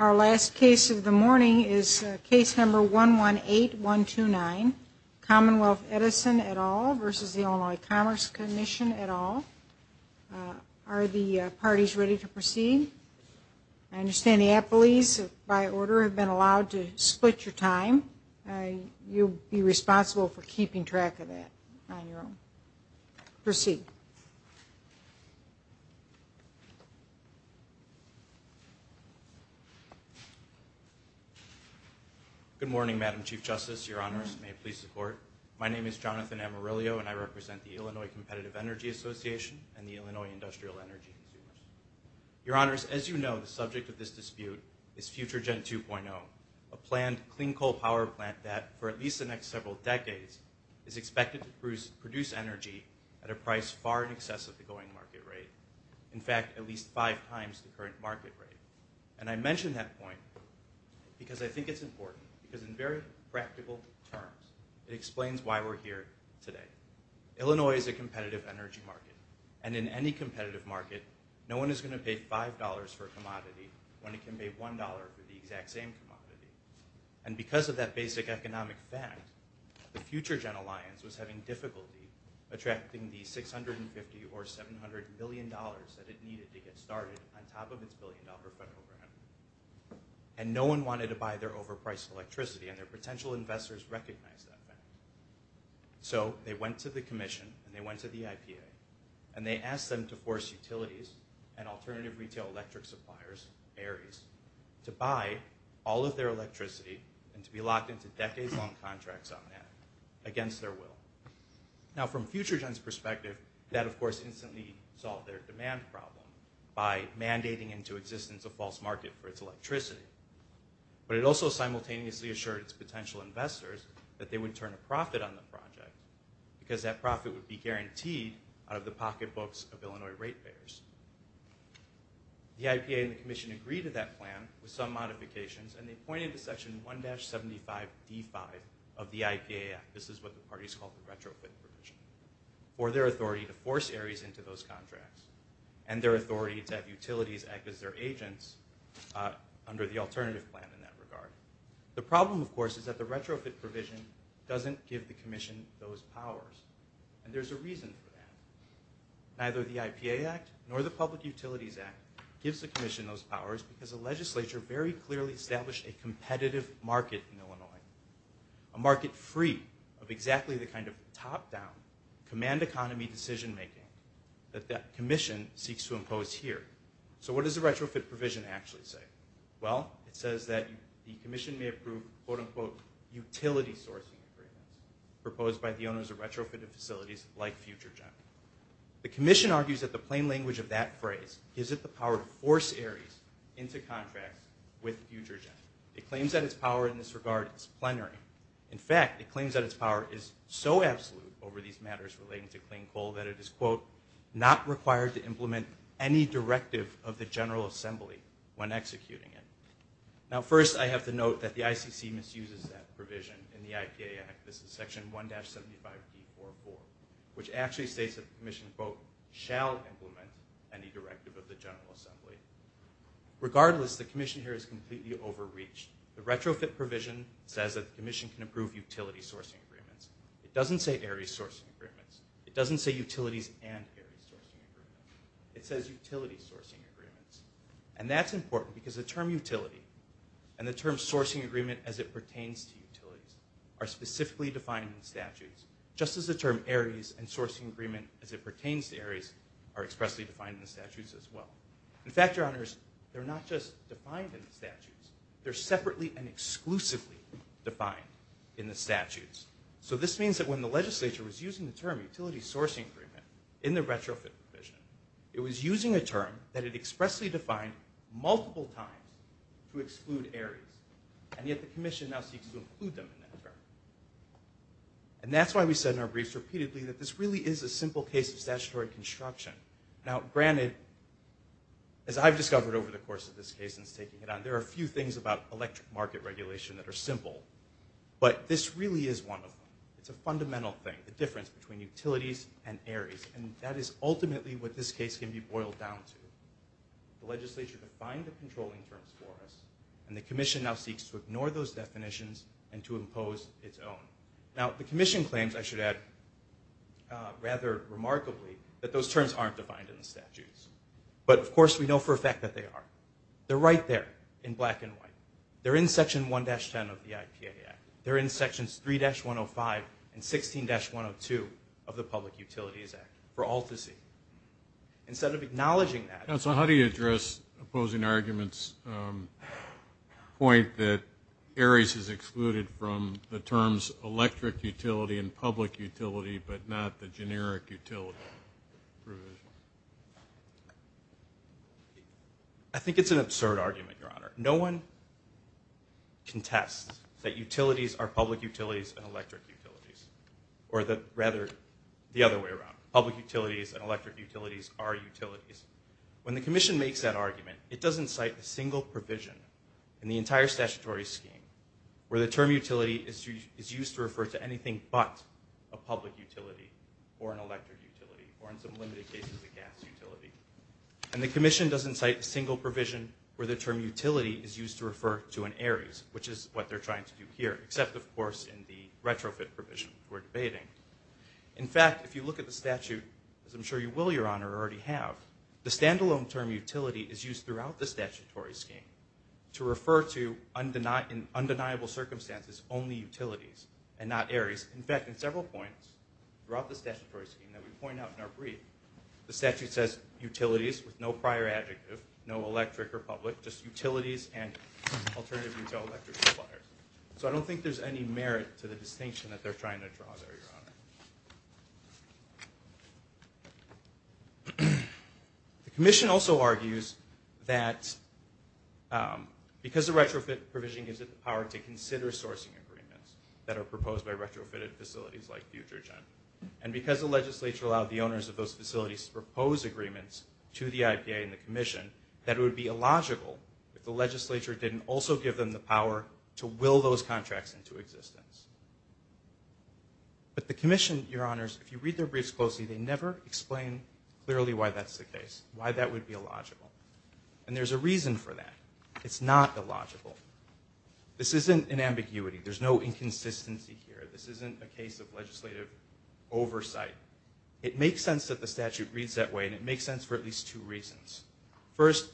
Our last case of the morning is case number 118129, Commonwealth Edison et al. v. Illinois Commerce Commission et al. Are the parties ready to proceed? I understand the appellees, by order, have been allowed to split your time. You'll be responsible for keeping track of that on your own. Proceed. Good morning, Madam Chief Justice, Your Honors. May it please the Court. My name is Jonathan Amarillo, and I represent the Illinois Competitive Energy Association and the Illinois Industrial Energy Consumers. Your Honors, as you know, the subject of this dispute is FutureGen 2.0, a planned clean coal power plant that, for at least the next several decades, is expected to produce energy at a price far in excess of the going market rate. In fact, at least five times the current market rate. And I mention that point because I think it's important, because in very practical terms, it explains why we're here today. Illinois is a competitive energy market, and in any competitive market, no one is going to pay $5 for a commodity when they can pay $1 for the exact same commodity. And because of that basic economic fact, the FutureGen alliance was having difficulty attracting the $650 or $700 million that it needed to get started on top of its billion-dollar program. And no one wanted to buy their overpriced electricity, and their potential investors recognized that fact. So they went to the Commission, and they went to the IPA, and they asked them to force utilities and alternative retail electric suppliers, ARIES, to buy all of their electricity and to be locked into decades-long contracts on that, against their will. Now, from FutureGen's perspective, that, of course, instantly solved their demand problem by mandating into existence a false market for its electricity. But it also simultaneously assured its potential investors that they would turn a profit on the project, because that profit would be guaranteed out of the pocketbooks of Illinois ratepayers. The IPA and the Commission agreed to that plan with some modifications, and they pointed to Section 1-75d5 of the IPA Act. This is what the parties called the retrofit provision, for their authority to force ARIES into those contracts and their authority to have utilities act as their agents under the alternative plan in that regard. The problem, of course, is that the retrofit provision doesn't give the Commission those powers, and there's a reason for that. Neither the IPA Act nor the Public Utilities Act gives the Commission those powers, because the legislature very clearly established a competitive market in Illinois, a market free of exactly the kind of top-down, command-economy decision-making that the Commission seeks to impose here. So what does the retrofit provision actually say? Well, it says that the Commission may approve, quote-unquote, utility sourcing agreements proposed by the owners of retrofitted facilities like FutureGen. The Commission argues that the plain language of that phrase gives it the power to force ARIES into contracts with FutureGen. It claims that its power in this regard is plenary. In fact, it claims that its power is so absolute over these matters relating to clean coal that it is, quote, not required to implement any directive of the General Assembly when executing it. Now first, I have to note that the ICC misuses that provision in the IPA Act. This is Section 1-75B44, which actually states that the Commission, quote, shall implement any directive of the General Assembly. Regardless, the Commission here is completely overreached. The retrofit provision says that the Commission can approve utility sourcing agreements. It doesn't say ARIES sourcing agreements. It doesn't say utilities and ARIES sourcing agreements. It says utility sourcing agreements. And that's important because the term utility and the term sourcing agreement as it pertains to utilities are specifically defined in the statutes, just as the term ARIES and sourcing agreement as it pertains to ARIES are expressly defined in the statutes as well. In fact, Your Honors, they're not just defined in the statutes. They're separately and exclusively defined in the statutes. So this means that when the legislature was using the term utility sourcing agreement in the retrofit provision, it was using a term that it expressly defined multiple times to exclude ARIES. And yet the Commission now seeks to include them in that term. And that's why we said in our briefs repeatedly that this really is a simple case of statutory construction. Now, granted, as I've discovered over the course of this case since taking it on, there are a few things about electric market regulation that are simple. But this really is one of them. It's a fundamental thing, the difference between utilities and ARIES. And that is ultimately what this case can be boiled down to. The legislature defined the controlling terms for us, and the Commission now seeks to ignore those definitions and to impose its own. Now, the Commission claims, I should add, rather remarkably, that those terms aren't defined in the statutes. But, of course, we know for a fact that they are. They're right there in black and white. They're in Section 1-10 of the IPAA Act. They're in Sections 3-105 and 16-102 of the Public Utilities Act for all to see. Instead of acknowledging that. So how do you address opposing arguments' point that ARIES is excluded from the terms electric utility and public utility, but not the generic utility provision? I think it's an absurd argument, Your Honor. No one contests that utilities are public utilities and electric utilities. Or rather, the other way around. Public utilities and electric utilities are utilities. When the Commission makes that argument, it doesn't cite a single provision in the entire statutory scheme where the term utility is used to refer to anything but a public utility or an electric utility, or in some limited cases, a gas utility. And the Commission doesn't cite a single provision where the term utility is used to refer to an ARIES, which is what they're trying to do here, except, of course, in the retrofit provision we're debating. In fact, if you look at the statute, as I'm sure you will, Your Honor, already have, the standalone term utility is used throughout the statutory scheme to refer to, in undeniable circumstances, only utilities and not ARIES. In fact, in several points throughout the statutory scheme that we point out in our brief, the statute says utilities with no prior adjective, no electric or public, just utilities and alternative utility electric suppliers. So I don't think there's any merit to the distinction that they're trying to draw there, Your Honor. The Commission also argues that because the retrofit provision gives it the power to consider sourcing agreements that are proposed by retrofitted facilities like FutureGen, and because the legislature allowed the owners of those facilities to propose agreements to the IPA and the Commission, that it would be illogical if the legislature didn't also give them the power to will those contracts into existence. But the Commission, Your Honors, if you read their briefs closely, they never explain clearly why that's the case, why that would be illogical. And there's a reason for that. It's not illogical. This isn't an ambiguity. There's no inconsistency here. This isn't a case of legislative oversight. It makes sense that the statute reads that way, and it makes sense for at least two reasons. First,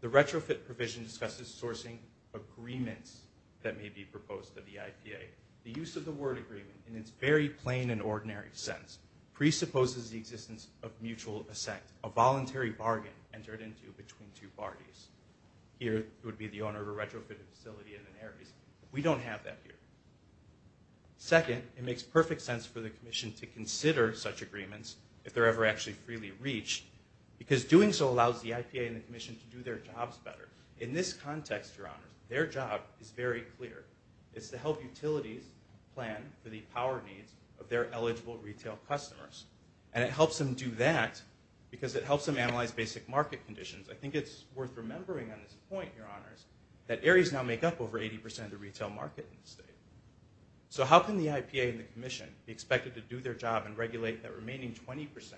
the retrofit provision discusses sourcing agreements that may be proposed to the IPA. The use of the word agreement in its very plain and ordinary sense presupposes the existence of mutual assent, a voluntary bargain entered into between two parties. Here, it would be the owner of a retrofitted facility in an area. We don't have that here. Second, it makes perfect sense for the Commission to consider such agreements, if they're ever actually freely reached, because doing so allows the IPA and the Commission to do their jobs better. In this context, Your Honors, their job is very clear. It's to help utilities plan for the power needs of their eligible retail customers. And it helps them do that because it helps them analyze basic market conditions. I think it's worth remembering on this point, Your Honors, that ARIES now make up over 80% of the retail market in the state. So how can the IPA and the Commission be expected to do their job and regulate that remaining 20%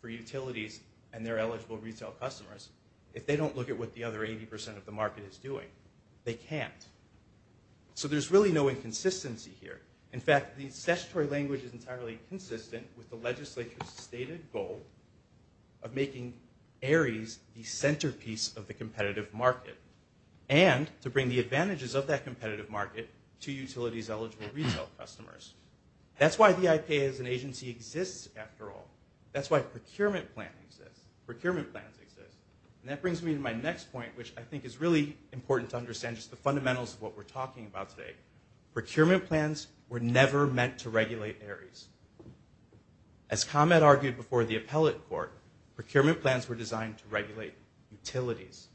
for utilities and their eligible retail customers if they don't look at what the other 80% of the market is doing? They can't. So there's really no inconsistency here. In fact, the statutory language is entirely consistent with the legislature's stated goal of making ARIES the centerpiece of the competitive market and to bring the advantages of that competitive market to utilities' eligible retail customers. That's why the IPA as an agency exists, after all. That's why procurement plans exist. Procurement plans exist. And that brings me to my next point, which I think is really important to understand, just the fundamentals of what we're talking about today. Procurement plans were never meant to regulate ARIES. As ComEd argued before the appellate court, procurement plans were designed to regulate utilities.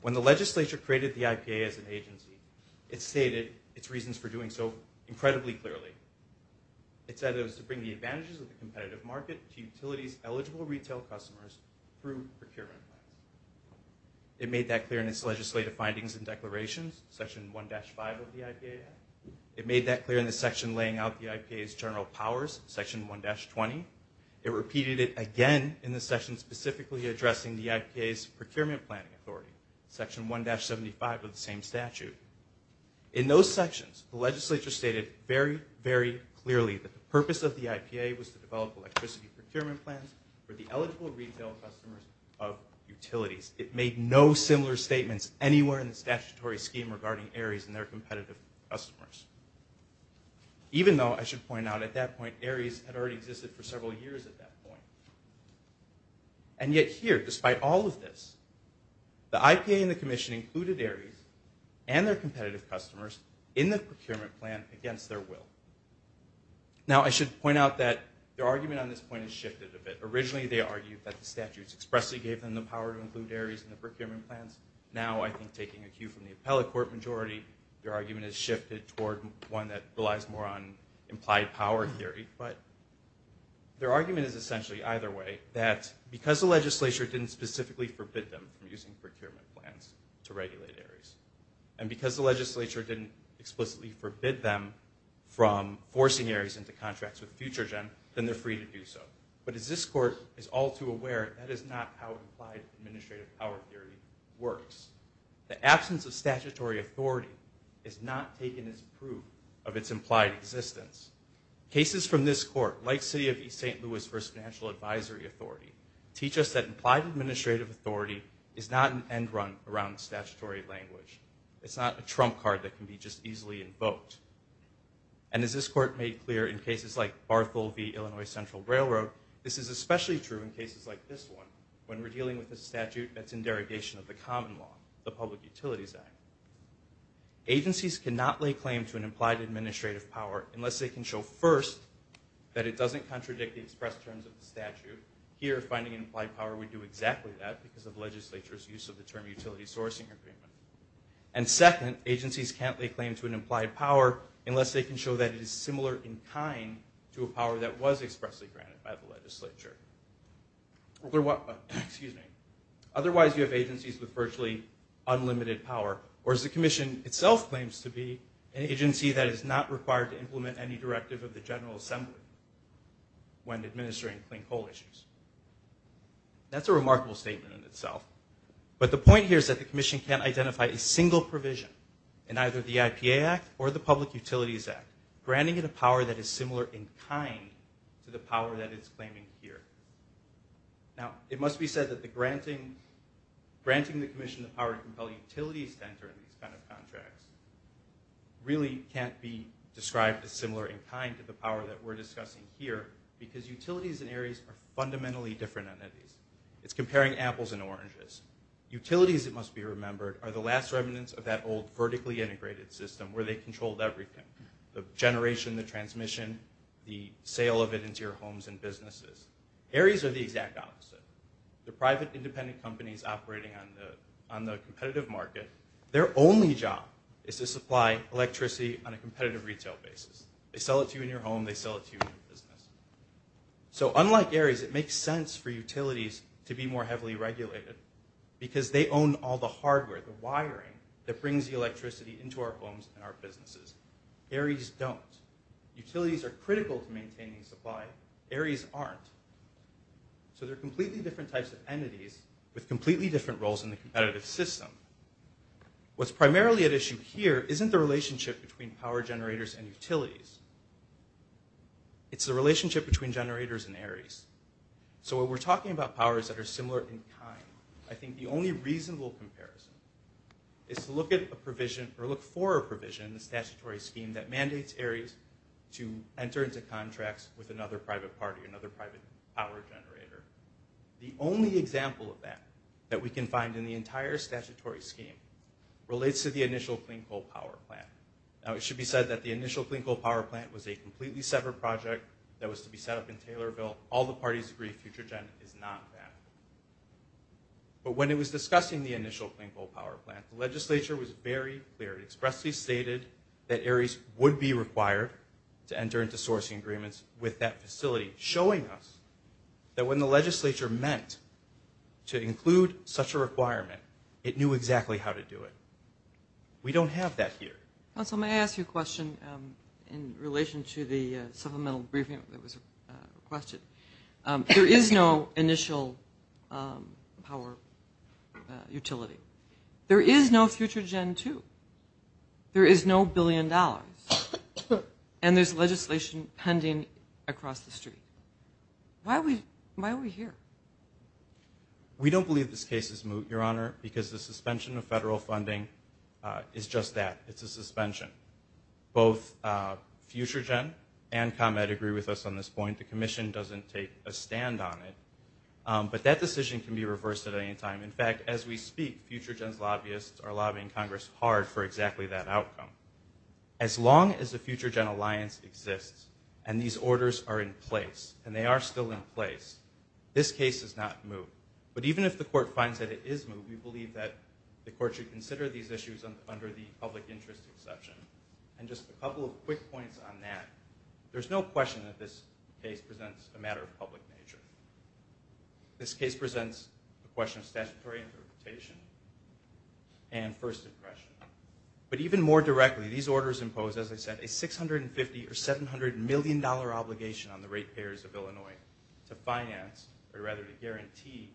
When the legislature created the IPA as an agency, it stated its reasons for doing so incredibly clearly. It said it was to bring the advantages of the competitive market to utilities' eligible retail customers through procurement plans. It made that clear in its legislative findings and declarations, Section 1-5 of the IPA Act. It made that clear in the section laying out the IPA's general powers, Section 1-20. It repeated it again in the section specifically addressing the IPA's procurement planning authority, Section 1-75 of the same statute. In those sections, the legislature stated very, very clearly that the purpose of the IPA was to develop electricity procurement plans for the eligible retail customers of utilities. It made no similar statements anywhere in the statutory scheme regarding ARIES and their competitive customers. Even though, I should point out, at that point, ARIES had already existed for several years at that point. And yet here, despite all of this, the IPA and the Commission included ARIES and their competitive customers in the procurement plan against their will. Now, I should point out that their argument on this point has shifted a bit. Originally, they argued that the statutes expressly gave them the power to include ARIES in the procurement plans. Now, I think taking a cue from the appellate court majority, their argument has shifted toward one that relies more on implied power theory. But their argument is essentially either way, that because the legislature didn't specifically forbid them from using procurement plans to regulate ARIES, and because the legislature didn't explicitly forbid them from forcing ARIES into contracts with FutureGen, then they're free to do so. But as this court is all too aware, that is not how implied administrative power theory works. The absence of statutory authority is not taken as proof of its implied existence. Cases from this court, like City of East St. Louis v. Financial Advisory Authority, teach us that implied administrative authority is not an end run around statutory language. It's not a trump card that can be just easily invoked. And as this court made clear in cases like Barthel v. Illinois Central Railroad, this is especially true in cases like this one, when we're dealing with a statute that's in derogation of the common law, the Public Utilities Act. Agencies cannot lay claim to an implied administrative power unless they can show first, that it doesn't contradict the express terms of the statute. Here, finding an implied power would do exactly that, because of legislature's use of the term utility sourcing agreement. And second, agencies can't lay claim to an implied power unless they can show that it is similar in kind to a power that was expressly granted by the legislature. Otherwise, you have agencies with virtually unlimited power. Or as the commission itself claims to be, an agency that is not required to implement any directive of the General Assembly when administering clean coal issues. That's a remarkable statement in itself. But the point here is that the commission can't identify a single provision in either the IPA Act or the Public Utilities Act, granting it a power that is similar in kind to the power that it's claiming here. Now, it must be said that granting the commission the power to compel utilities to enter in these kind of contracts really can't be described as similar in kind to the power that we're discussing here, because utilities in areas are fundamentally different entities. It's comparing apples and oranges. Utilities, it must be remembered, are the last remnants of that old vertically integrated system where they controlled everything. The generation, the transmission, the sale of it into your homes and businesses. Areas are the exact opposite. They're private, independent companies operating on the competitive market. Their only job is to supply electricity on a competitive retail basis. They sell it to you in your home. They sell it to you in your business. So unlike areas, it makes sense for utilities to be more heavily regulated, because they own all the hardware, the wiring that brings the electricity into our homes and our businesses. Areas don't. Utilities are critical to maintaining supply. Areas aren't. So they're completely different types of entities with completely different roles in the competitive system. What's primarily at issue here isn't the relationship between power generators and utilities. It's the relationship between generators and areas. So when we're talking about powers that are similar in kind, I think the only reasonable comparison is to look at a provision or look for a provision in the statutory scheme that mandates areas to enter into contracts with another private party, another private power generator. The only example of that that we can find in the entire statutory scheme relates to the initial clean coal power plant. Now, it should be said that the initial clean coal power plant was a completely separate project that was to be set up in Taylorville. All the parties agree FutureGen is not that. But when it was discussing the initial clean coal power plant, the legislature was very clear. It expressly stated that areas would be required to enter into sourcing agreements with that facility, showing us that when the legislature meant to include such a requirement, it knew exactly how to do it. We don't have that here. Counsel, may I ask you a question in relation to the supplemental briefing that was requested? There is no initial power utility. There is no FutureGen II. There is no billion dollars. And there's legislation pending across the street. Why are we here? We don't believe this case is moot, Your Honor, because the suspension of federal funding is just that. It's a suspension. Both FutureGen and ComEd agree with us on this point. The commission doesn't take a stand on it. But that decision can be reversed at any time. In fact, as we speak, FutureGen's lobbyists are lobbying Congress hard for exactly that outcome. As long as the FutureGen alliance exists and these orders are in place, and they are still in place, this case is not moot. But even if the court finds that it is moot, we believe that the court should consider these issues under the public interest exception. And just a couple of quick points on that. There's no question that this case presents a matter of public nature. This case presents a question of statutory interpretation and first impression. But even more directly, these orders impose, as I said, a $650 or $700 million obligation on the rate payers of Illinois to finance or rather to guarantee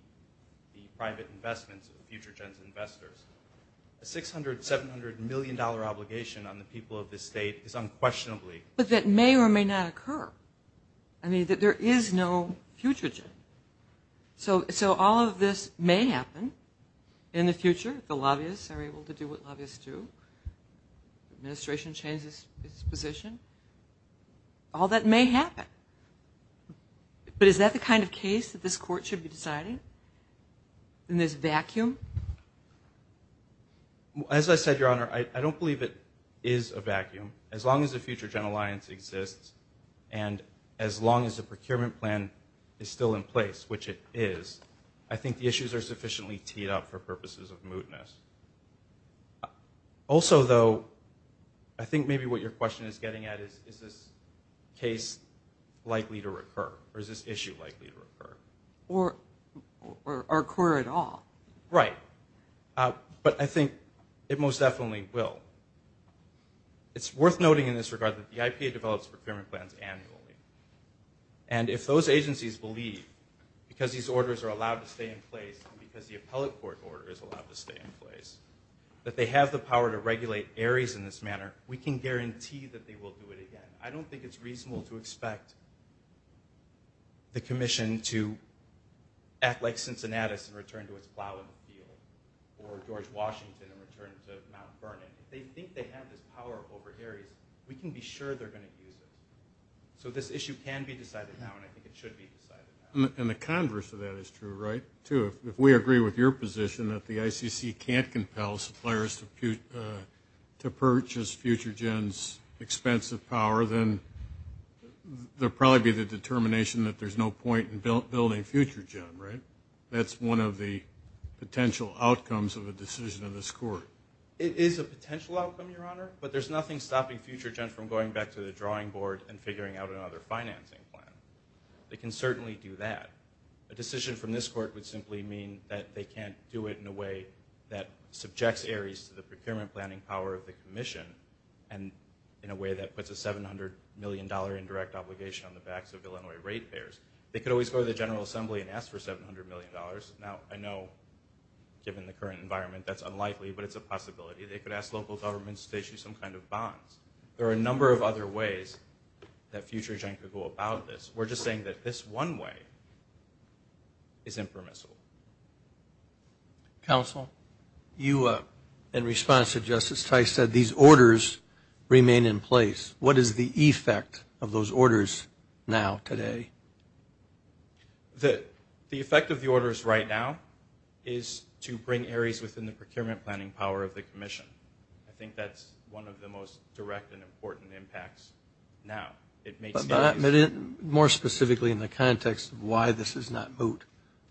the private investments of FutureGen's investors. A $600, $700 million obligation on the people of this state is unquestionably. But that may or may not occur. I mean, there is no FutureGen. So all of this may happen in the future. The lobbyists are able to do what lobbyists do. The administration changes its position. All that may happen. But is that the kind of case that this court should be deciding in this vacuum? As I said, Your Honor, I don't believe it is a vacuum. As long as the FutureGen alliance exists and as long as the procurement plan is still in place, which it is, I think the issues are sufficiently teed up for purposes of mootness. Also, though, I think maybe what your question is getting at is is this case likely to recur or is this issue likely to recur? Or occur at all. Right. But I think it most definitely will. It's worth noting in this regard that the IPA develops procurement plans annually. And if those agencies believe, because these orders are allowed to stay in place and because the appellate court order is allowed to stay in place, that they have the power to regulate ARIES in this manner, we can guarantee that they will do it again. I don't think it's reasonable to expect the commission to act like Cincinnati and return to its plow in the field or George Washington and return to Mount Vernon. If they think they have this power over ARIES, we can be sure they're going to use it. So this issue can be decided now and I think it should be decided now. And the converse of that is true, right, too. If we agree with your position that the ICC can't compel suppliers to purchase FutureGen's expensive power, then there will probably be the determination that there's no point in building FutureGen, right? That's one of the potential outcomes of a decision of this court. It is a potential outcome, Your Honor, but there's nothing stopping FutureGen from going back to the drawing board and figuring out another financing plan. They can certainly do that. A decision from this court would simply mean that they can't do it in a way that subjects ARIES to the procurement planning power of the commission and in a way that puts a $700 million indirect obligation on the backs of Illinois ratepayers. They could always go to the General Assembly and ask for $700 million. Now, I know, given the current environment, that's unlikely, but it's a possibility. They could ask local governments to issue some kind of bonds. There are a number of other ways that FutureGen could go about this. We're just saying that this one way is impermissible. Counsel, you, in response to Justice Tice, said these orders remain in place. What is the effect of those orders now, today? The effect of the orders right now is to bring ARIES within the procurement planning power of the commission. I think that's one of the most direct and important impacts now. More specifically in the context of why this is not moot,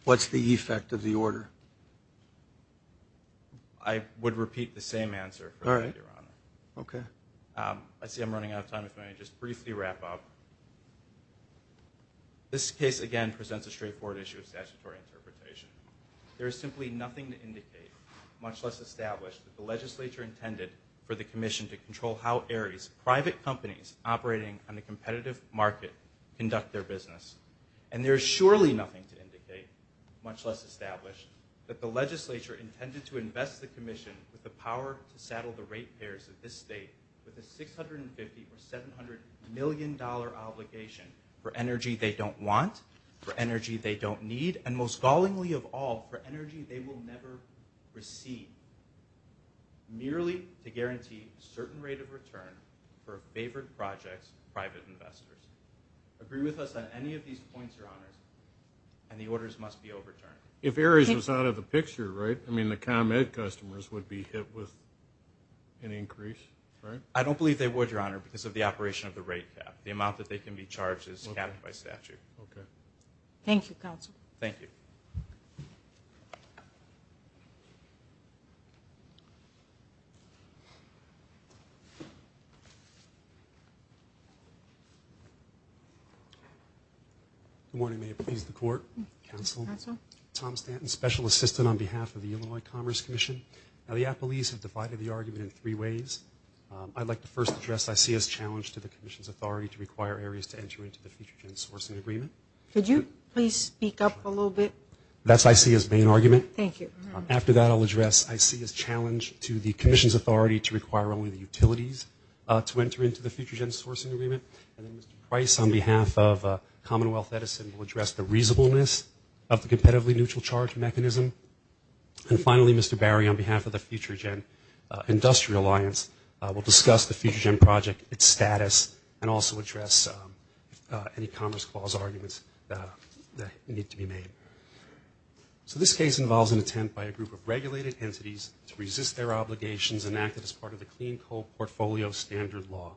what's the effect of the order? I would repeat the same answer, Your Honor. I see I'm running out of time, if I may just briefly wrap up. This case, again, presents a straightforward issue of statutory interpretation. There is simply nothing to indicate, much less establish, that the legislature intended for the commission to control how ARIES private companies operating on the competitive market conduct their business. And there is surely nothing to indicate, much less establish, that the legislature intended to invest the commission with the power to saddle the ratepayers of this state with a $650 or $700 million obligation for energy they don't want, for energy they don't need, and most gallingly of all, for energy they will never receive, merely to guarantee a certain rate of return for favored projects, private investors. Agree with us on any of these points, Your Honor, and the orders must be overturned. If ARIES was out of the picture, right, I mean the ComEd customers would be hit with an increase, right? I don't believe they would, Your Honor, because of the operation of the rate cap. The amount that they can be charged is capped by statute. Okay. Thank you, Counsel. Thank you. Good morning. May it please the Court. Counsel. Counsel. Tom Stanton, Special Assistant on behalf of the Illinois Commerce Commission. Now, the appellees have divided the argument in three ways. I'd like to first address what I see as a challenge to the commission's authority to require ARIES to enter into the FutureGen sourcing agreement. Could you please speak up a little bit? That's what I see as the main argument. Thank you. After that, I'll address what I see as a challenge to the commission's authority to require only the utilities to enter into the FutureGen sourcing agreement. And then Mr. Price, on behalf of Commonwealth Edison, will address the reasonableness of the competitively neutral charge mechanism. And finally, Mr. Barry, on behalf of the FutureGen Industrial Alliance, will discuss the FutureGen project, its status, and also address any Commerce Clause arguments that need to be made. So this case involves an attempt by a group of regulated entities to resist their obligations enacted as part of the Clean Coal Portfolio Standard Law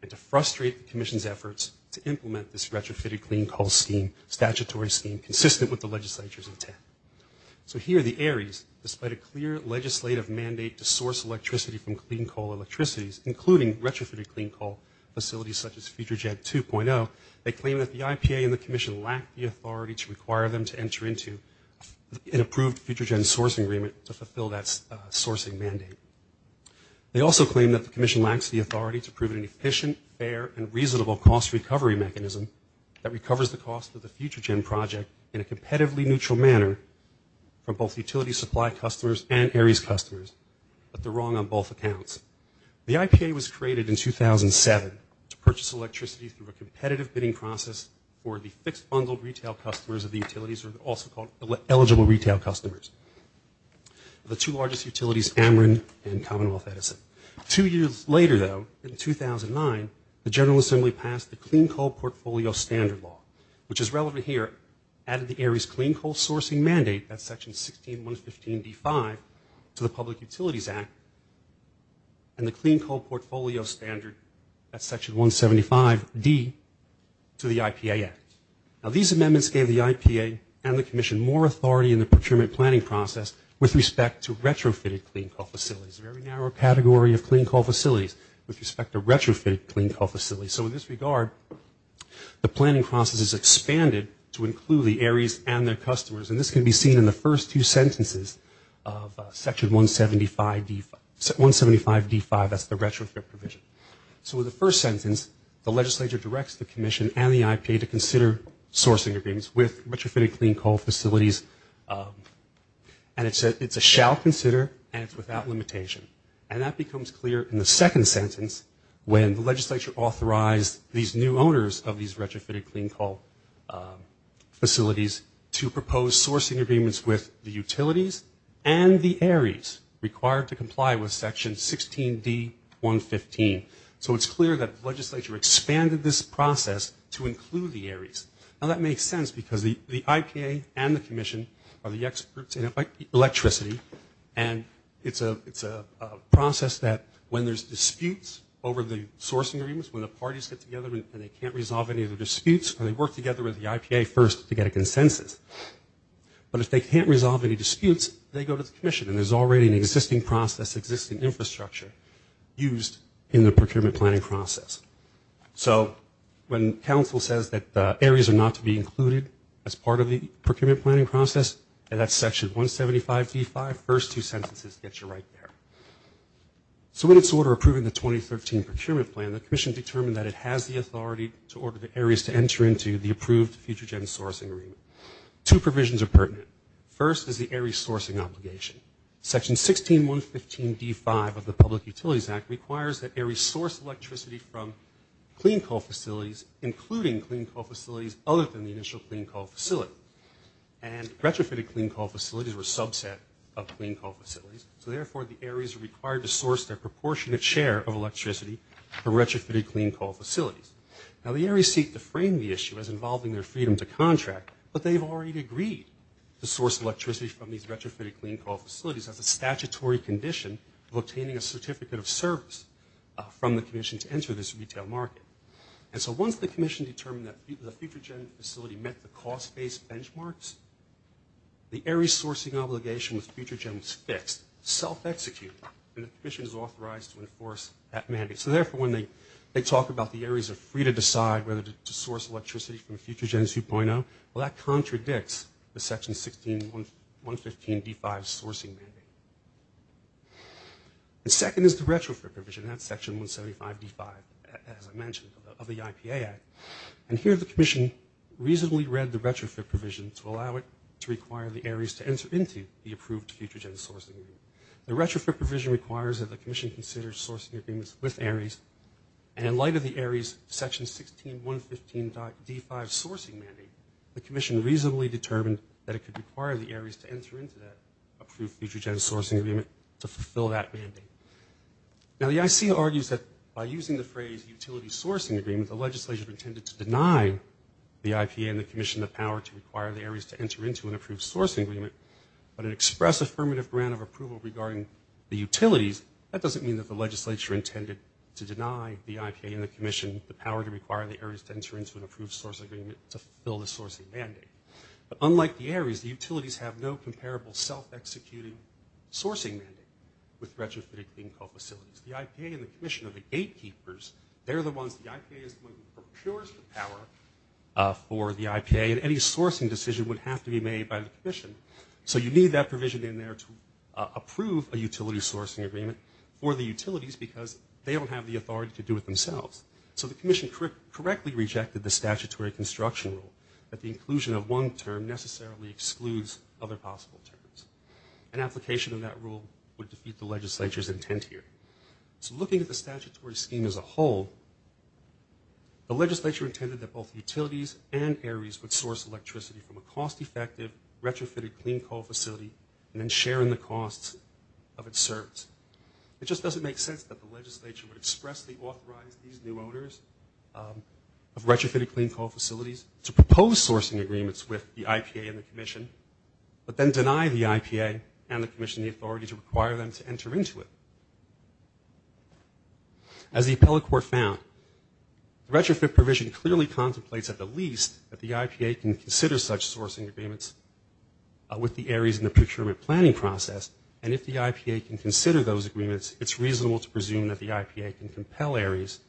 and to frustrate the commission's efforts to implement this retrofitted clean coal scheme, statutory scheme, consistent with the legislature's intent. So here, the ARIES, despite a clear legislative mandate to source electricity from clean coal electricities, including retrofitted clean coal facilities such as FutureGen 2.0, they claim that the IPA and the commission lack the authority to require them to enter into an approved FutureGen sourcing agreement to fulfill that sourcing mandate. They also claim that the commission lacks the authority to prove an efficient, fair, and reasonable cost recovery mechanism that recovers the cost of the supply customers and ARIES customers, but they're wrong on both accounts. The IPA was created in 2007 to purchase electricity through a competitive bidding process for the fixed bundled retail customers of the utilities, also called eligible retail customers. The two largest utilities, Ameren and Commonwealth Edison. Two years later, though, in 2009, the General Assembly passed the Clean Coal Portfolio Standard Law, which is relevant here, added the ARIES clean coal sourcing mandate, that's Section 16.115.D5, to the Public Utilities Act, and the Clean Coal Portfolio Standard, that's Section 175.D, to the IPA Act. Now, these amendments gave the IPA and the commission more authority in the procurement planning process with respect to retrofitted clean coal facilities, a very narrow category of clean coal facilities with respect to retrofitted clean coal facilities. So in this regard, the planning process has expanded to include the ARIES and their customers, and this can be seen in the first two sentences of Section 175.D5, that's the retrofit provision. So in the first sentence, the legislature directs the commission and the IPA to consider sourcing agreements with retrofitted clean coal facilities, and it's a shall consider, and it's without limitation. And that becomes clear in the second sentence when the legislature authorized these new owners of these retrofitted clean coal facilities to propose sourcing agreements with the utilities and the ARIES required to comply with Section 16.D.115. So it's clear that the legislature expanded this process to include the ARIES. Now, that makes sense because the IPA and the commission are the experts in electricity, and it's a process that when there's disputes over the sourcing agreements, when the parties get together and they can't resolve any of the disputes, they work together with the IPA first to get a consensus. But if they can't resolve any disputes, they go to the commission, and there's already an existing process, existing infrastructure used in the procurement planning process. So when council says that ARIES are not to be included as part of the Section 75.D.5, first two sentences get you right there. So in its order approving the 2013 procurement plan, the commission determined that it has the authority to order the ARIES to enter into the approved future gen sourcing agreement. Two provisions are pertinent. First is the ARIES sourcing obligation. Section 16.115.D.5 of the Public Utilities Act requires that ARIES source electricity from clean coal facilities, including clean coal facilities other than the initial clean coal facility. And retrofitted clean coal facilities were a subset of clean coal facilities, so therefore the ARIES are required to source their proportionate share of electricity from retrofitted clean coal facilities. Now the ARIES seek to frame the issue as involving their freedom to contract, but they've already agreed to source electricity from these retrofitted clean coal facilities as a statutory condition of obtaining a certificate of service from the commission to enter this retail market. And so once the commission determined that the future gen facility met the cost-based benchmarks, the ARIES sourcing obligation with future gen was fixed, self-executed, and the commission is authorized to enforce that mandate. So therefore when they talk about the ARIES are free to decide whether to source electricity from future gen 2.0, well that contradicts the Section 16.115.D.5 sourcing mandate. The second is the retrofit provision, that's Section 175.D.5, as I mentioned, of the IPA Act. And here the commission reasonably read the retrofit provision to allow it to require the ARIES to enter into the approved future gen sourcing agreement. The retrofit provision requires that the commission consider sourcing agreements with ARIES, and in light of the ARIES Section 16.115.D.5 sourcing mandate, the commission reasonably determined that it could require the ARIES to enter into that approved future gen sourcing agreement to fulfill that mandate. Now the ICA argues that by using the phrase utility sourcing agreement, the legislature intended to deny the IPA and the commission the power to require the ARIES to enter into an approved sourcing agreement. But an express affirmative grant of approval regarding the utilities, that doesn't mean that the legislature intended to deny the IPA and the commission the power to require the ARIES to enter into an approved sourcing agreement to fulfill the sourcing mandate. But unlike the ARIES, the utilities have no comparable self-executing sourcing mandate with retrofitted clean coal facilities. The IPA and the commission are the gatekeepers. They're the ones, the IPA is the one who procures the power for the IPA, and any sourcing decision would have to be made by the commission. So you need that provision in there to approve a utility sourcing agreement for the utilities because they don't have the authority to do it themselves. So the commission correctly rejected the statutory construction rule that the inclusion of one term necessarily excludes other possible terms. An application of that rule would defeat the legislature's intent here. So looking at the statutory scheme as a whole, the legislature intended that both utilities and ARIES would source electricity from a cost-effective retrofitted clean coal facility and then share in the costs of its service. It just doesn't make sense that the legislature would expressly authorize these new owners of retrofitted clean coal facilities to propose sourcing agreements with the IPA and the commission, but then deny the IPA and the commission the authority to require them to As the appellate court found, the retrofit provision clearly contemplates at the least that the IPA can consider such sourcing agreements with the ARIES in the procurement planning process, and if the IPA can consider those agreements, it's reasonable to presume that the IPA can compel ARIES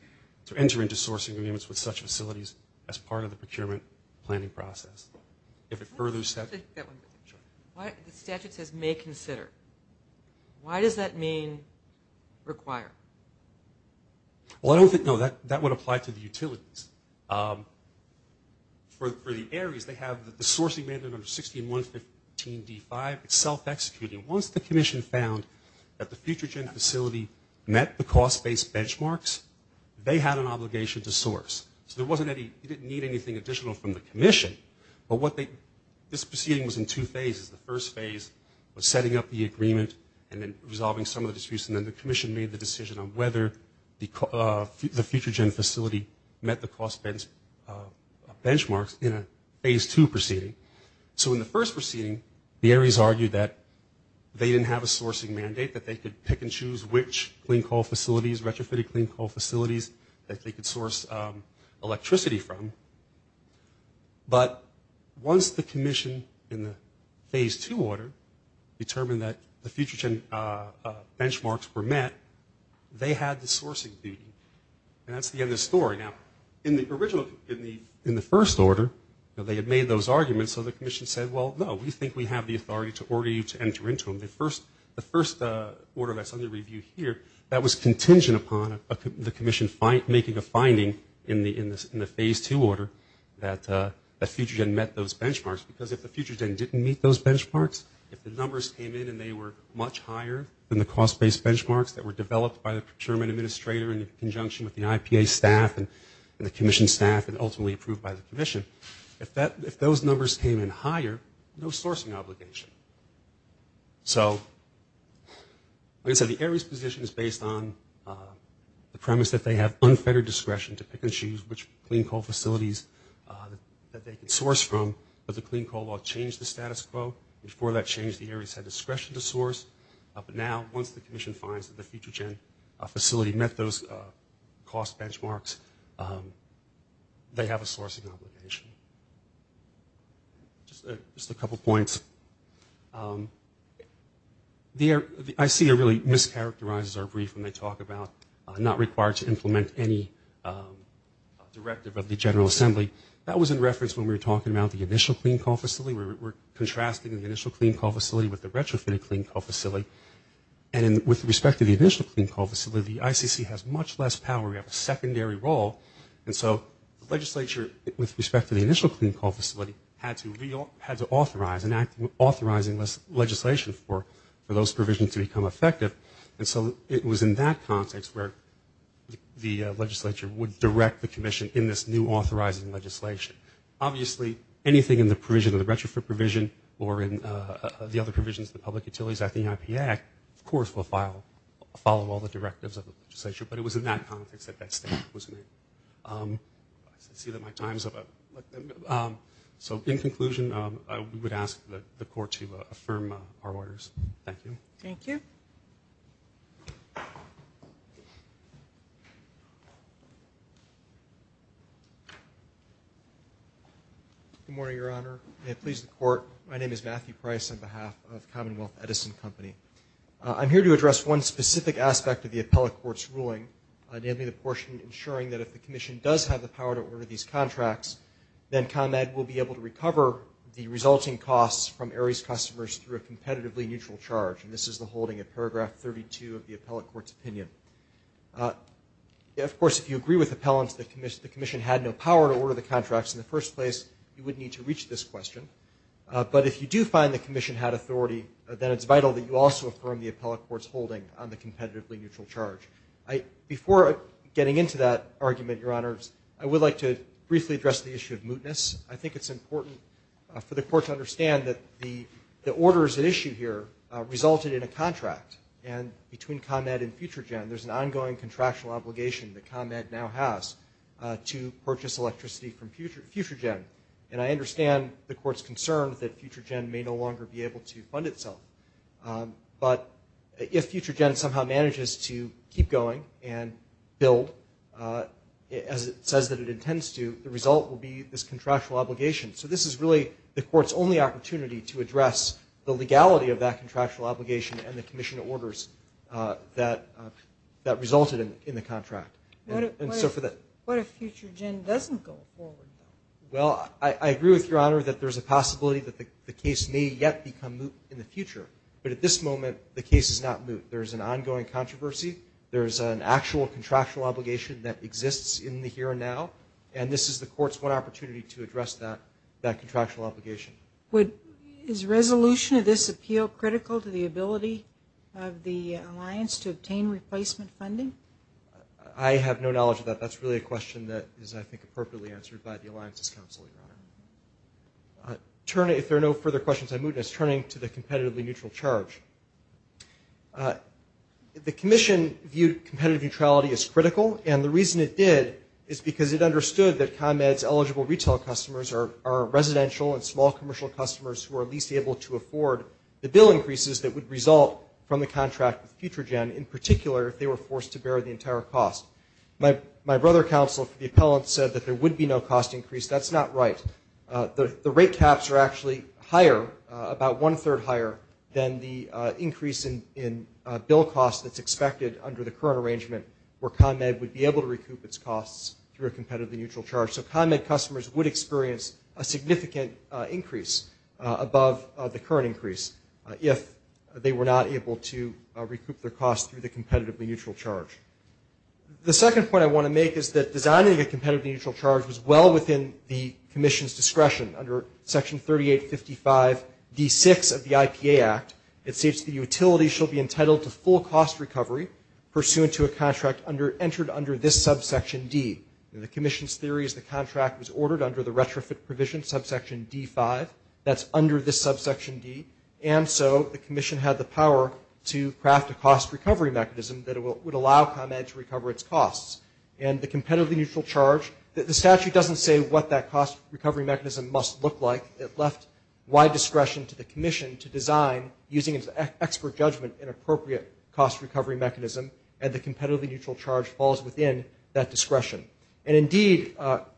to enter into sourcing agreements with such facilities as part of the procurement planning process. If it furthers that... The statute says may consider. Why does that mean require? Well, I don't think... No, that would apply to the utilities. For the ARIES, they have the sourcing amendment under 16.115.D5. It's self-executing. Once the commission found that the future gen facility met the cost-based benchmarks, they had an obligation to source. So there wasn't any... You didn't need anything additional from the commission, but what they... This proceeding was in two phases. The first phase was setting up the agreement and then resolving some of the disputes, and then the commission made the decision on whether the future gen facility met the cost-based benchmarks in a phase two proceeding. So in the first proceeding, the ARIES argued that they didn't have a sourcing mandate, that they could pick and choose which clean coal facilities, retrofitted clean coal facilities that they could source electricity from. But once the commission in the phase two order determined that the future gen benchmarks were met, they had the sourcing duty. And that's the end of the story. Now, in the first order, they had made those arguments, so the commission said, well, no, we think we have the authority to order you to enter into them. The first order that's under review here, that was contingent upon the commission making a finding in the phase two order that the future gen met those benchmarks, because if the future gen didn't meet those benchmarks, if the numbers came in and they were much higher than the cost-based benchmarks that were developed by the procurement administrator in conjunction with the IPA staff and the commission staff and ultimately approved by the commission, if those numbers came in higher, no sourcing obligation. So, like I said, the ARIES position is based on the premise that they have unfettered discretion to pick and choose which clean coal facilities that they can source from, but the clean coal law changed the status quo. Before that change, the ARIES had discretion to source. But now, once the commission finds that the future gen facility met those cost benchmarks, they have a sourcing obligation. Just a couple points. The ICA really mischaracterizes our brief when they talk about not required to implement any directive of the General Assembly. That was in reference when we were talking about the initial clean coal facility. We're contrasting the initial clean coal facility with the retrofitted clean coal facility. And with respect to the initial clean coal facility, the ICC has much less power. We have a secondary role. And so the legislature, with respect to the initial clean coal facility, had to authorize and act authorizing legislation for those provisions to become effective. And so it was in that context where the legislature would direct the commission in this new authorizing legislation. Obviously, anything in the provision of the retrofit provision or in the other provisions of the Public Utilities Act, the IP Act, of course will follow all the directives of the legislature. But it was in that context that that statement was made. I see that my time is up. So in conclusion, we would ask the court to affirm our orders. Thank you. Thank you. Good morning, Your Honor. May it please the court. My name is Matthew Price on behalf of Commonwealth Edison Company. I'm here to address one specific aspect of the appellate court's ruling, namely the portion ensuring that if the commission does have the power to order these contracts, then ComEd will be able to recover the resulting costs from ARIES customers through a competitively neutral charge. And this is the holding of paragraph 32 of the appellate court's opinion. Of course, if you agree with appellants that the commission had no power to order the contracts in the first place, you would need to reach this question. But if you do find the commission had authority, then it's vital that you also affirm the appellate court's holding on the competitively neutral charge. Before getting into that argument, Your Honors, I would like to briefly address the issue of mootness. I think it's important for the court to understand that the orders at issue here resulted in a contract. And between ComEd and FutureGen, there's an ongoing contractual obligation that ComEd now has to purchase electricity from FutureGen. And I understand the court's concern that FutureGen may no longer be able to fund itself. But if FutureGen somehow manages to keep going and build, as it says that it intends to, the result will be this contractual obligation. So this is really the court's only opportunity to address the legality of that contractual obligation and the commission orders that resulted in the contract. What if FutureGen doesn't go forward? Well, I agree with Your Honor that there's a possibility that the case may yet become moot in the future. But at this moment, the case is not moot. There's an ongoing controversy. There's an actual contractual obligation that exists in the here and now. And this is the court's one opportunity to address that contractual obligation. Is resolution of this appeal critical to the ability of the Alliance to obtain replacement funding? I have no knowledge of that. That's really a question that is, I think, appropriately answered by the Alliance's counsel, Your Honor. If there are no further questions, I move this turning to the competitively neutral charge. The commission viewed competitive neutrality as critical. And the reason it did is because it understood that ComEd's eligible retail customers are residential and small commercial customers who are least able to afford the bill increases that would result from the contract with FutureGen, in particular if they were forced to bear the entire cost. My brother counsel for the appellant said that there would be no cost increase. That's not right. The rate caps are actually higher, about one-third higher than the increase in bill costs that's expected under the current arrangement, where ComEd would be able to recoup its costs through a competitively neutral charge. So ComEd customers would experience a significant increase above the current increase if they were not able to recoup their costs through the competitively neutral charge. The second point I want to make is that designing a competitively neutral charge was well within the commission's discretion. Under Section 3855D6 of the IPA Act, it states the utility shall be entitled to full cost recovery pursuant to a contract entered under this subsection D. The commission's theory is the contract was ordered under the retrofit provision subsection D5. That's under this subsection D. And so the commission had the power to craft a cost recovery mechanism that would allow ComEd to recover its costs. And the competitively neutral charge, the statute doesn't say what that cost recovery mechanism must look like. It left wide discretion to the commission to design, using its expert judgment, an appropriate cost recovery mechanism. And the competitively neutral charge falls within that discretion. And, indeed,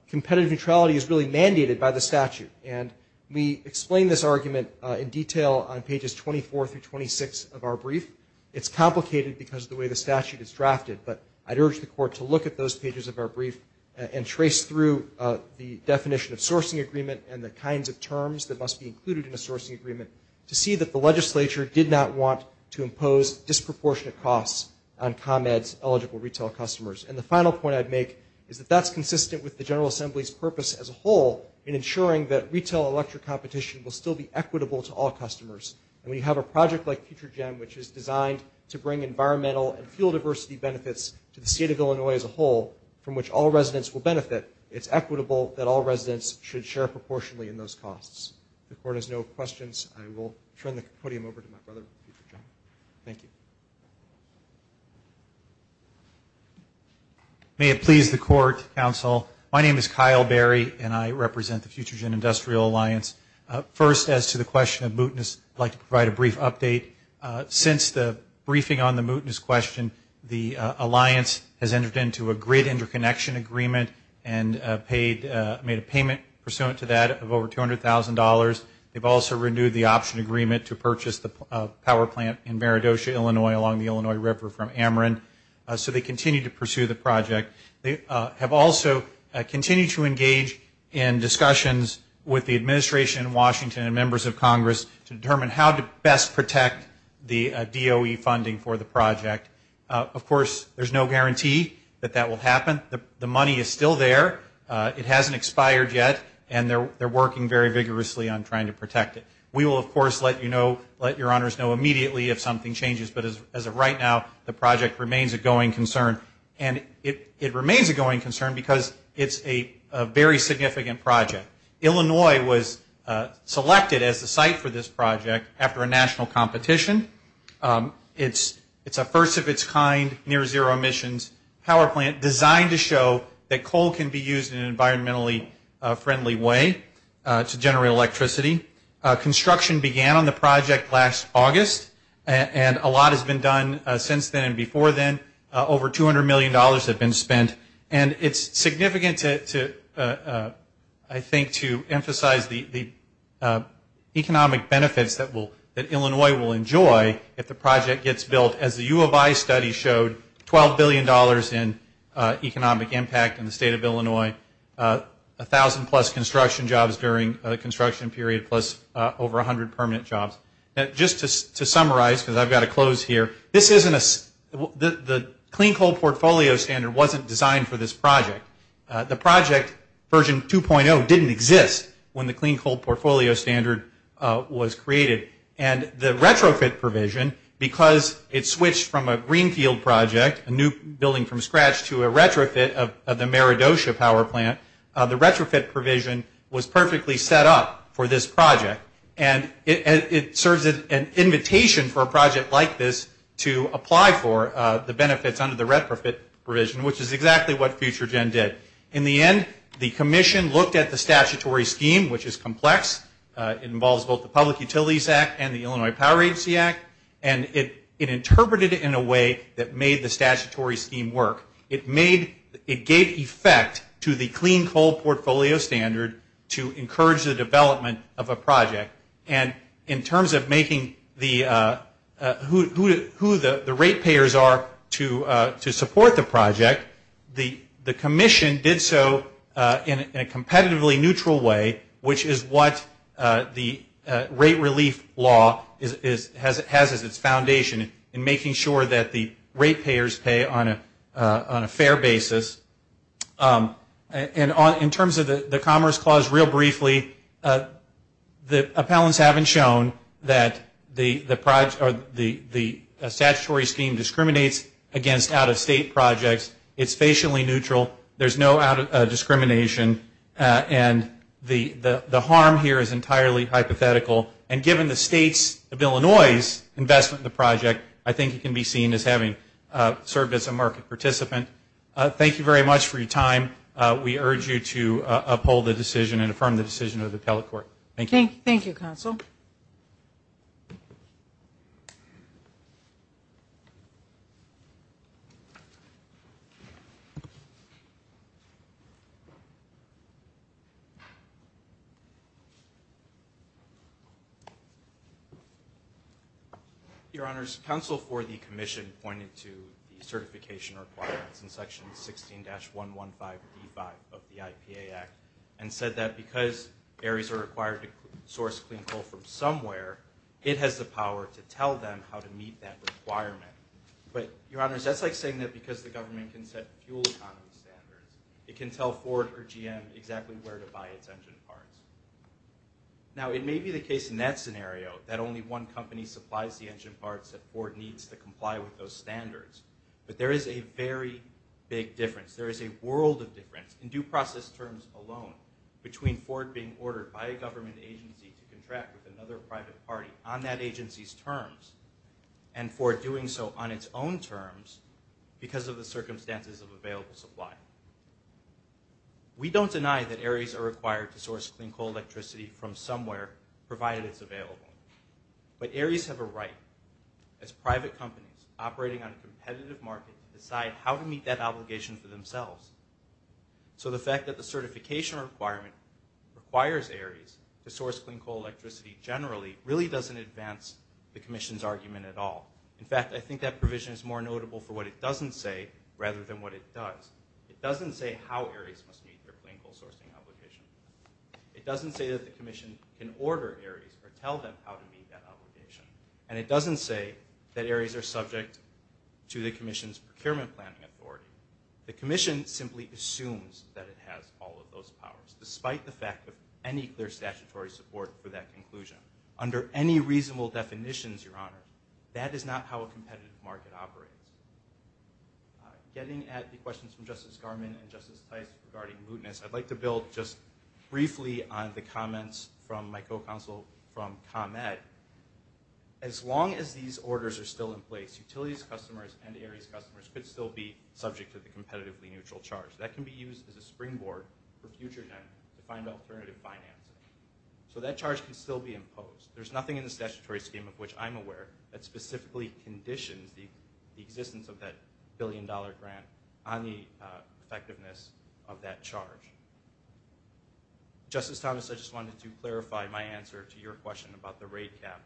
competitive neutrality is really mandated by the statute. And we explain this argument in detail on pages 24 through 26 of our brief. It's complicated because of the way the statute is drafted. But I'd urge the court to look at those pages of our brief and trace through the definition of sourcing agreement and the kinds of terms that must be included in a sourcing agreement to see that the legislature did not want to impose disproportionate costs on ComEd's eligible retail customers. And the final point I'd make is that that's consistent with the General Assembly's purpose as a whole in ensuring that retail electric competition will still be equitable to all customers. And when you have a project like FutureGen, which is designed to bring environmental and fuel diversity benefits to the state of Illinois as a whole from which all residents will benefit, it's equitable that all residents should share proportionately in those costs. If the court has no questions, I will turn the podium over to my brother. Thank you. May it please the court, counsel. My name is Kyle Berry, and I represent the FutureGen Industrial Alliance. First, as to the question of mootness, I'd like to provide a brief update. Since the briefing on the mootness question, the alliance has entered into a great interconnection agreement and made a payment pursuant to that of over $200,000. They've also renewed the option agreement to purchase the power plant in Maridocha, Illinois, along the Illinois River from Ameren. So they continue to pursue the project. They have also continued to engage in discussions with the administration in Washington and members of Congress to determine how to best protect the DOE funding for the project. Of course, there's no guarantee that that will happen. The money is still there. It hasn't expired yet, and they're working very vigorously on trying to protect it. We will, of course, let your honors know immediately if something changes, but as of right now, the project remains a going concern. And it remains a going concern because it's a very significant project. Illinois was selected as the site for this project after a national competition. It's a first-of-its-kind near-zero emissions power plant designed to show that coal can be used in an environmentally friendly way to generate electricity. Construction began on the project last August, and a lot has been done since then and before then. Over $200 million has been spent. And it's significant, I think, to emphasize the economic benefits that Illinois will enjoy if the project gets built, as the U of I study showed, $12 billion in economic impact in the state of Illinois, 1,000-plus construction jobs during the construction period, plus over 100 permanent jobs. Just to summarize, because I've got to close here, the Clean Coal Portfolio Standard wasn't designed for this project. The project, Version 2.0, didn't exist when the Clean Coal Portfolio Standard was created. And the retrofit provision, because it switched from a greenfield project, a new building from scratch, to a retrofit of the Maradochia Power Plant, the retrofit provision was perfectly set up for this project. And it serves as an invitation for a project like this to apply for the benefits under the retrofit provision, which is exactly what FutureGen did. In the end, the commission looked at the statutory scheme, which is complex. It involves both the Public Utilities Act and the Illinois Power Agency Act. And it interpreted it in a way that made the statutory scheme work. It gave effect to the Clean Coal Portfolio Standard to encourage the development of a project. And in terms of making who the rate payers are to support the project, the commission did so in a competitively neutral way, which is what the rate relief law has as its foundation in making sure that the rate payers pay on a fair basis. And in terms of the Commerce Clause, real briefly, the appellants haven't shown that the statutory scheme discriminates against out-of-state projects. It's facially neutral. There's no discrimination. And the harm here is entirely hypothetical. And given the states of Illinois' investment in the project, I think it can be seen as having served as a market participant. Thank you very much for your time. We urge you to uphold the decision and affirm the decision of the appellate court. Thank you. Thank you, Counsel. Thank you. Your Honors, counsel for the commission pointed to the certification requirements in Section 16-115B of the IPA Act and said that because areas are required to source clean coal from somewhere, it has the power to tell them how to meet that requirement. But, Your Honors, that's like saying that because the government can set fuel economy standards, it can tell Ford or GM exactly where to buy its engine parts. Now, it may be the case in that scenario that only one company supplies the engine parts that Ford needs to comply with those standards. But there is a very big difference. There is a world of difference, in due process terms alone, between Ford being ordered by a government agency to contract with another private party on that agency's terms and Ford doing so on its own terms because of the circumstances of available supply. We don't deny that areas are required to source clean coal electricity from somewhere, provided it's available. But areas have a right, as private companies operating on a competitive market, to decide how to meet that obligation for themselves. So the fact that the certification requirement requires areas to source clean coal electricity generally really doesn't advance the Commission's argument at all. In fact, I think that provision is more notable for what it doesn't say rather than what it does. It doesn't say how areas must meet their clean coal sourcing obligation. It doesn't say that the Commission can order areas or tell them how to meet that obligation. And it doesn't say that areas are subject to the Commission's procurement planning authority. The Commission simply assumes that it has all of those powers, despite the fact of any clear statutory support for that conclusion. Under any reasonable definitions, Your Honor, that is not how a competitive market operates. Getting at the questions from Justice Garmon and Justice Tice regarding mootness, I'd like to build just briefly on the comments from my co-counsel from ComEd. As long as these orders are still in place, utilities customers and areas customers could still be subject to the competitively neutral charge. That can be used as a springboard for future to find alternative financing. So that charge can still be imposed. There's nothing in the statutory scheme of which I'm aware that specifically conditions the existence of that billion dollar grant on the effectiveness of that charge. Justice Thomas, I just wanted to clarify my answer to your question about the rate cap.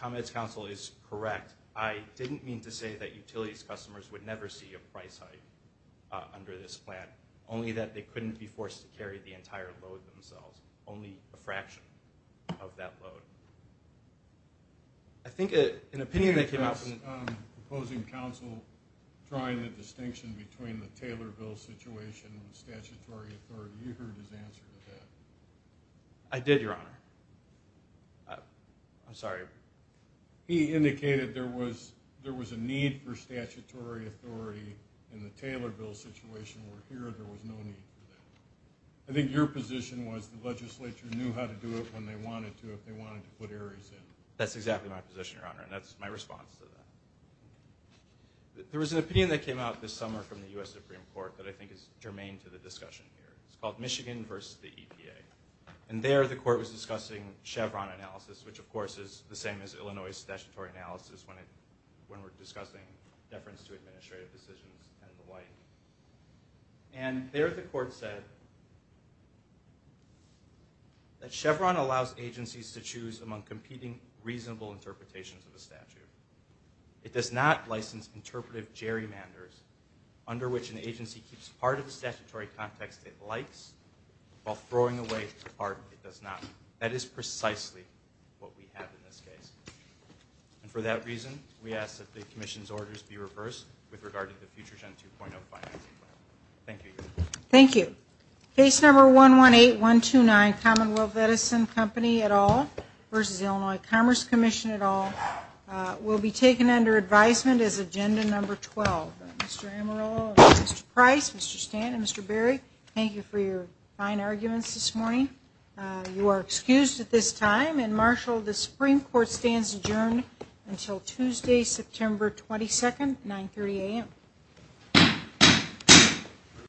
ComEd's counsel is correct. I didn't mean to say that utilities customers would never see a price hike under this plan, only that they couldn't be forced to carry the entire load themselves, only a fraction of that load. I think an opinion that came out from the ComEd proposing counsel drawing the distinction between the Taylor Bill situation and the statutory authority, you heard his answer to that. I did, Your Honor. I'm sorry. He indicated there was a need for statutory authority in the Taylor Bill situation. We're here. There was no need for that. I think your position was the legislature knew how to do it when they wanted to if they wanted to put areas in. That's exactly my position, Your Honor, and that's my response to that. There was an opinion that came out this summer from the U.S. Supreme Court that I think is germane to the discussion here. It's called Michigan versus the EPA. There the court was discussing Chevron analysis, which, of course, is the same as Illinois statutory analysis when we're discussing deference to administrative decisions and the like. There the court said that Chevron allows agencies to choose among competing reasonable interpretations of a statute. It does not license interpretive gerrymanders under which an agency keeps part of the statutory context it likes while throwing away part it does not. That is precisely what we have in this case. And for that reason, we ask that the commission's orders be reversed with regard to the future Gen 2.0 financing plan. Thank you, Your Honor. Thank you. Case number 118129, Commonwealth Medicine Company et al. versus Illinois Commerce Commission et al. will be taken under advisement as agenda number 12. Mr. Amarillo, Mr. Price, Mr. Stanton, Mr. Berry, thank you for your fine arguments this morning. You are excused at this time and, Marshall, the Supreme Court stands adjourned until Tuesday, September 22nd, 930 a.m.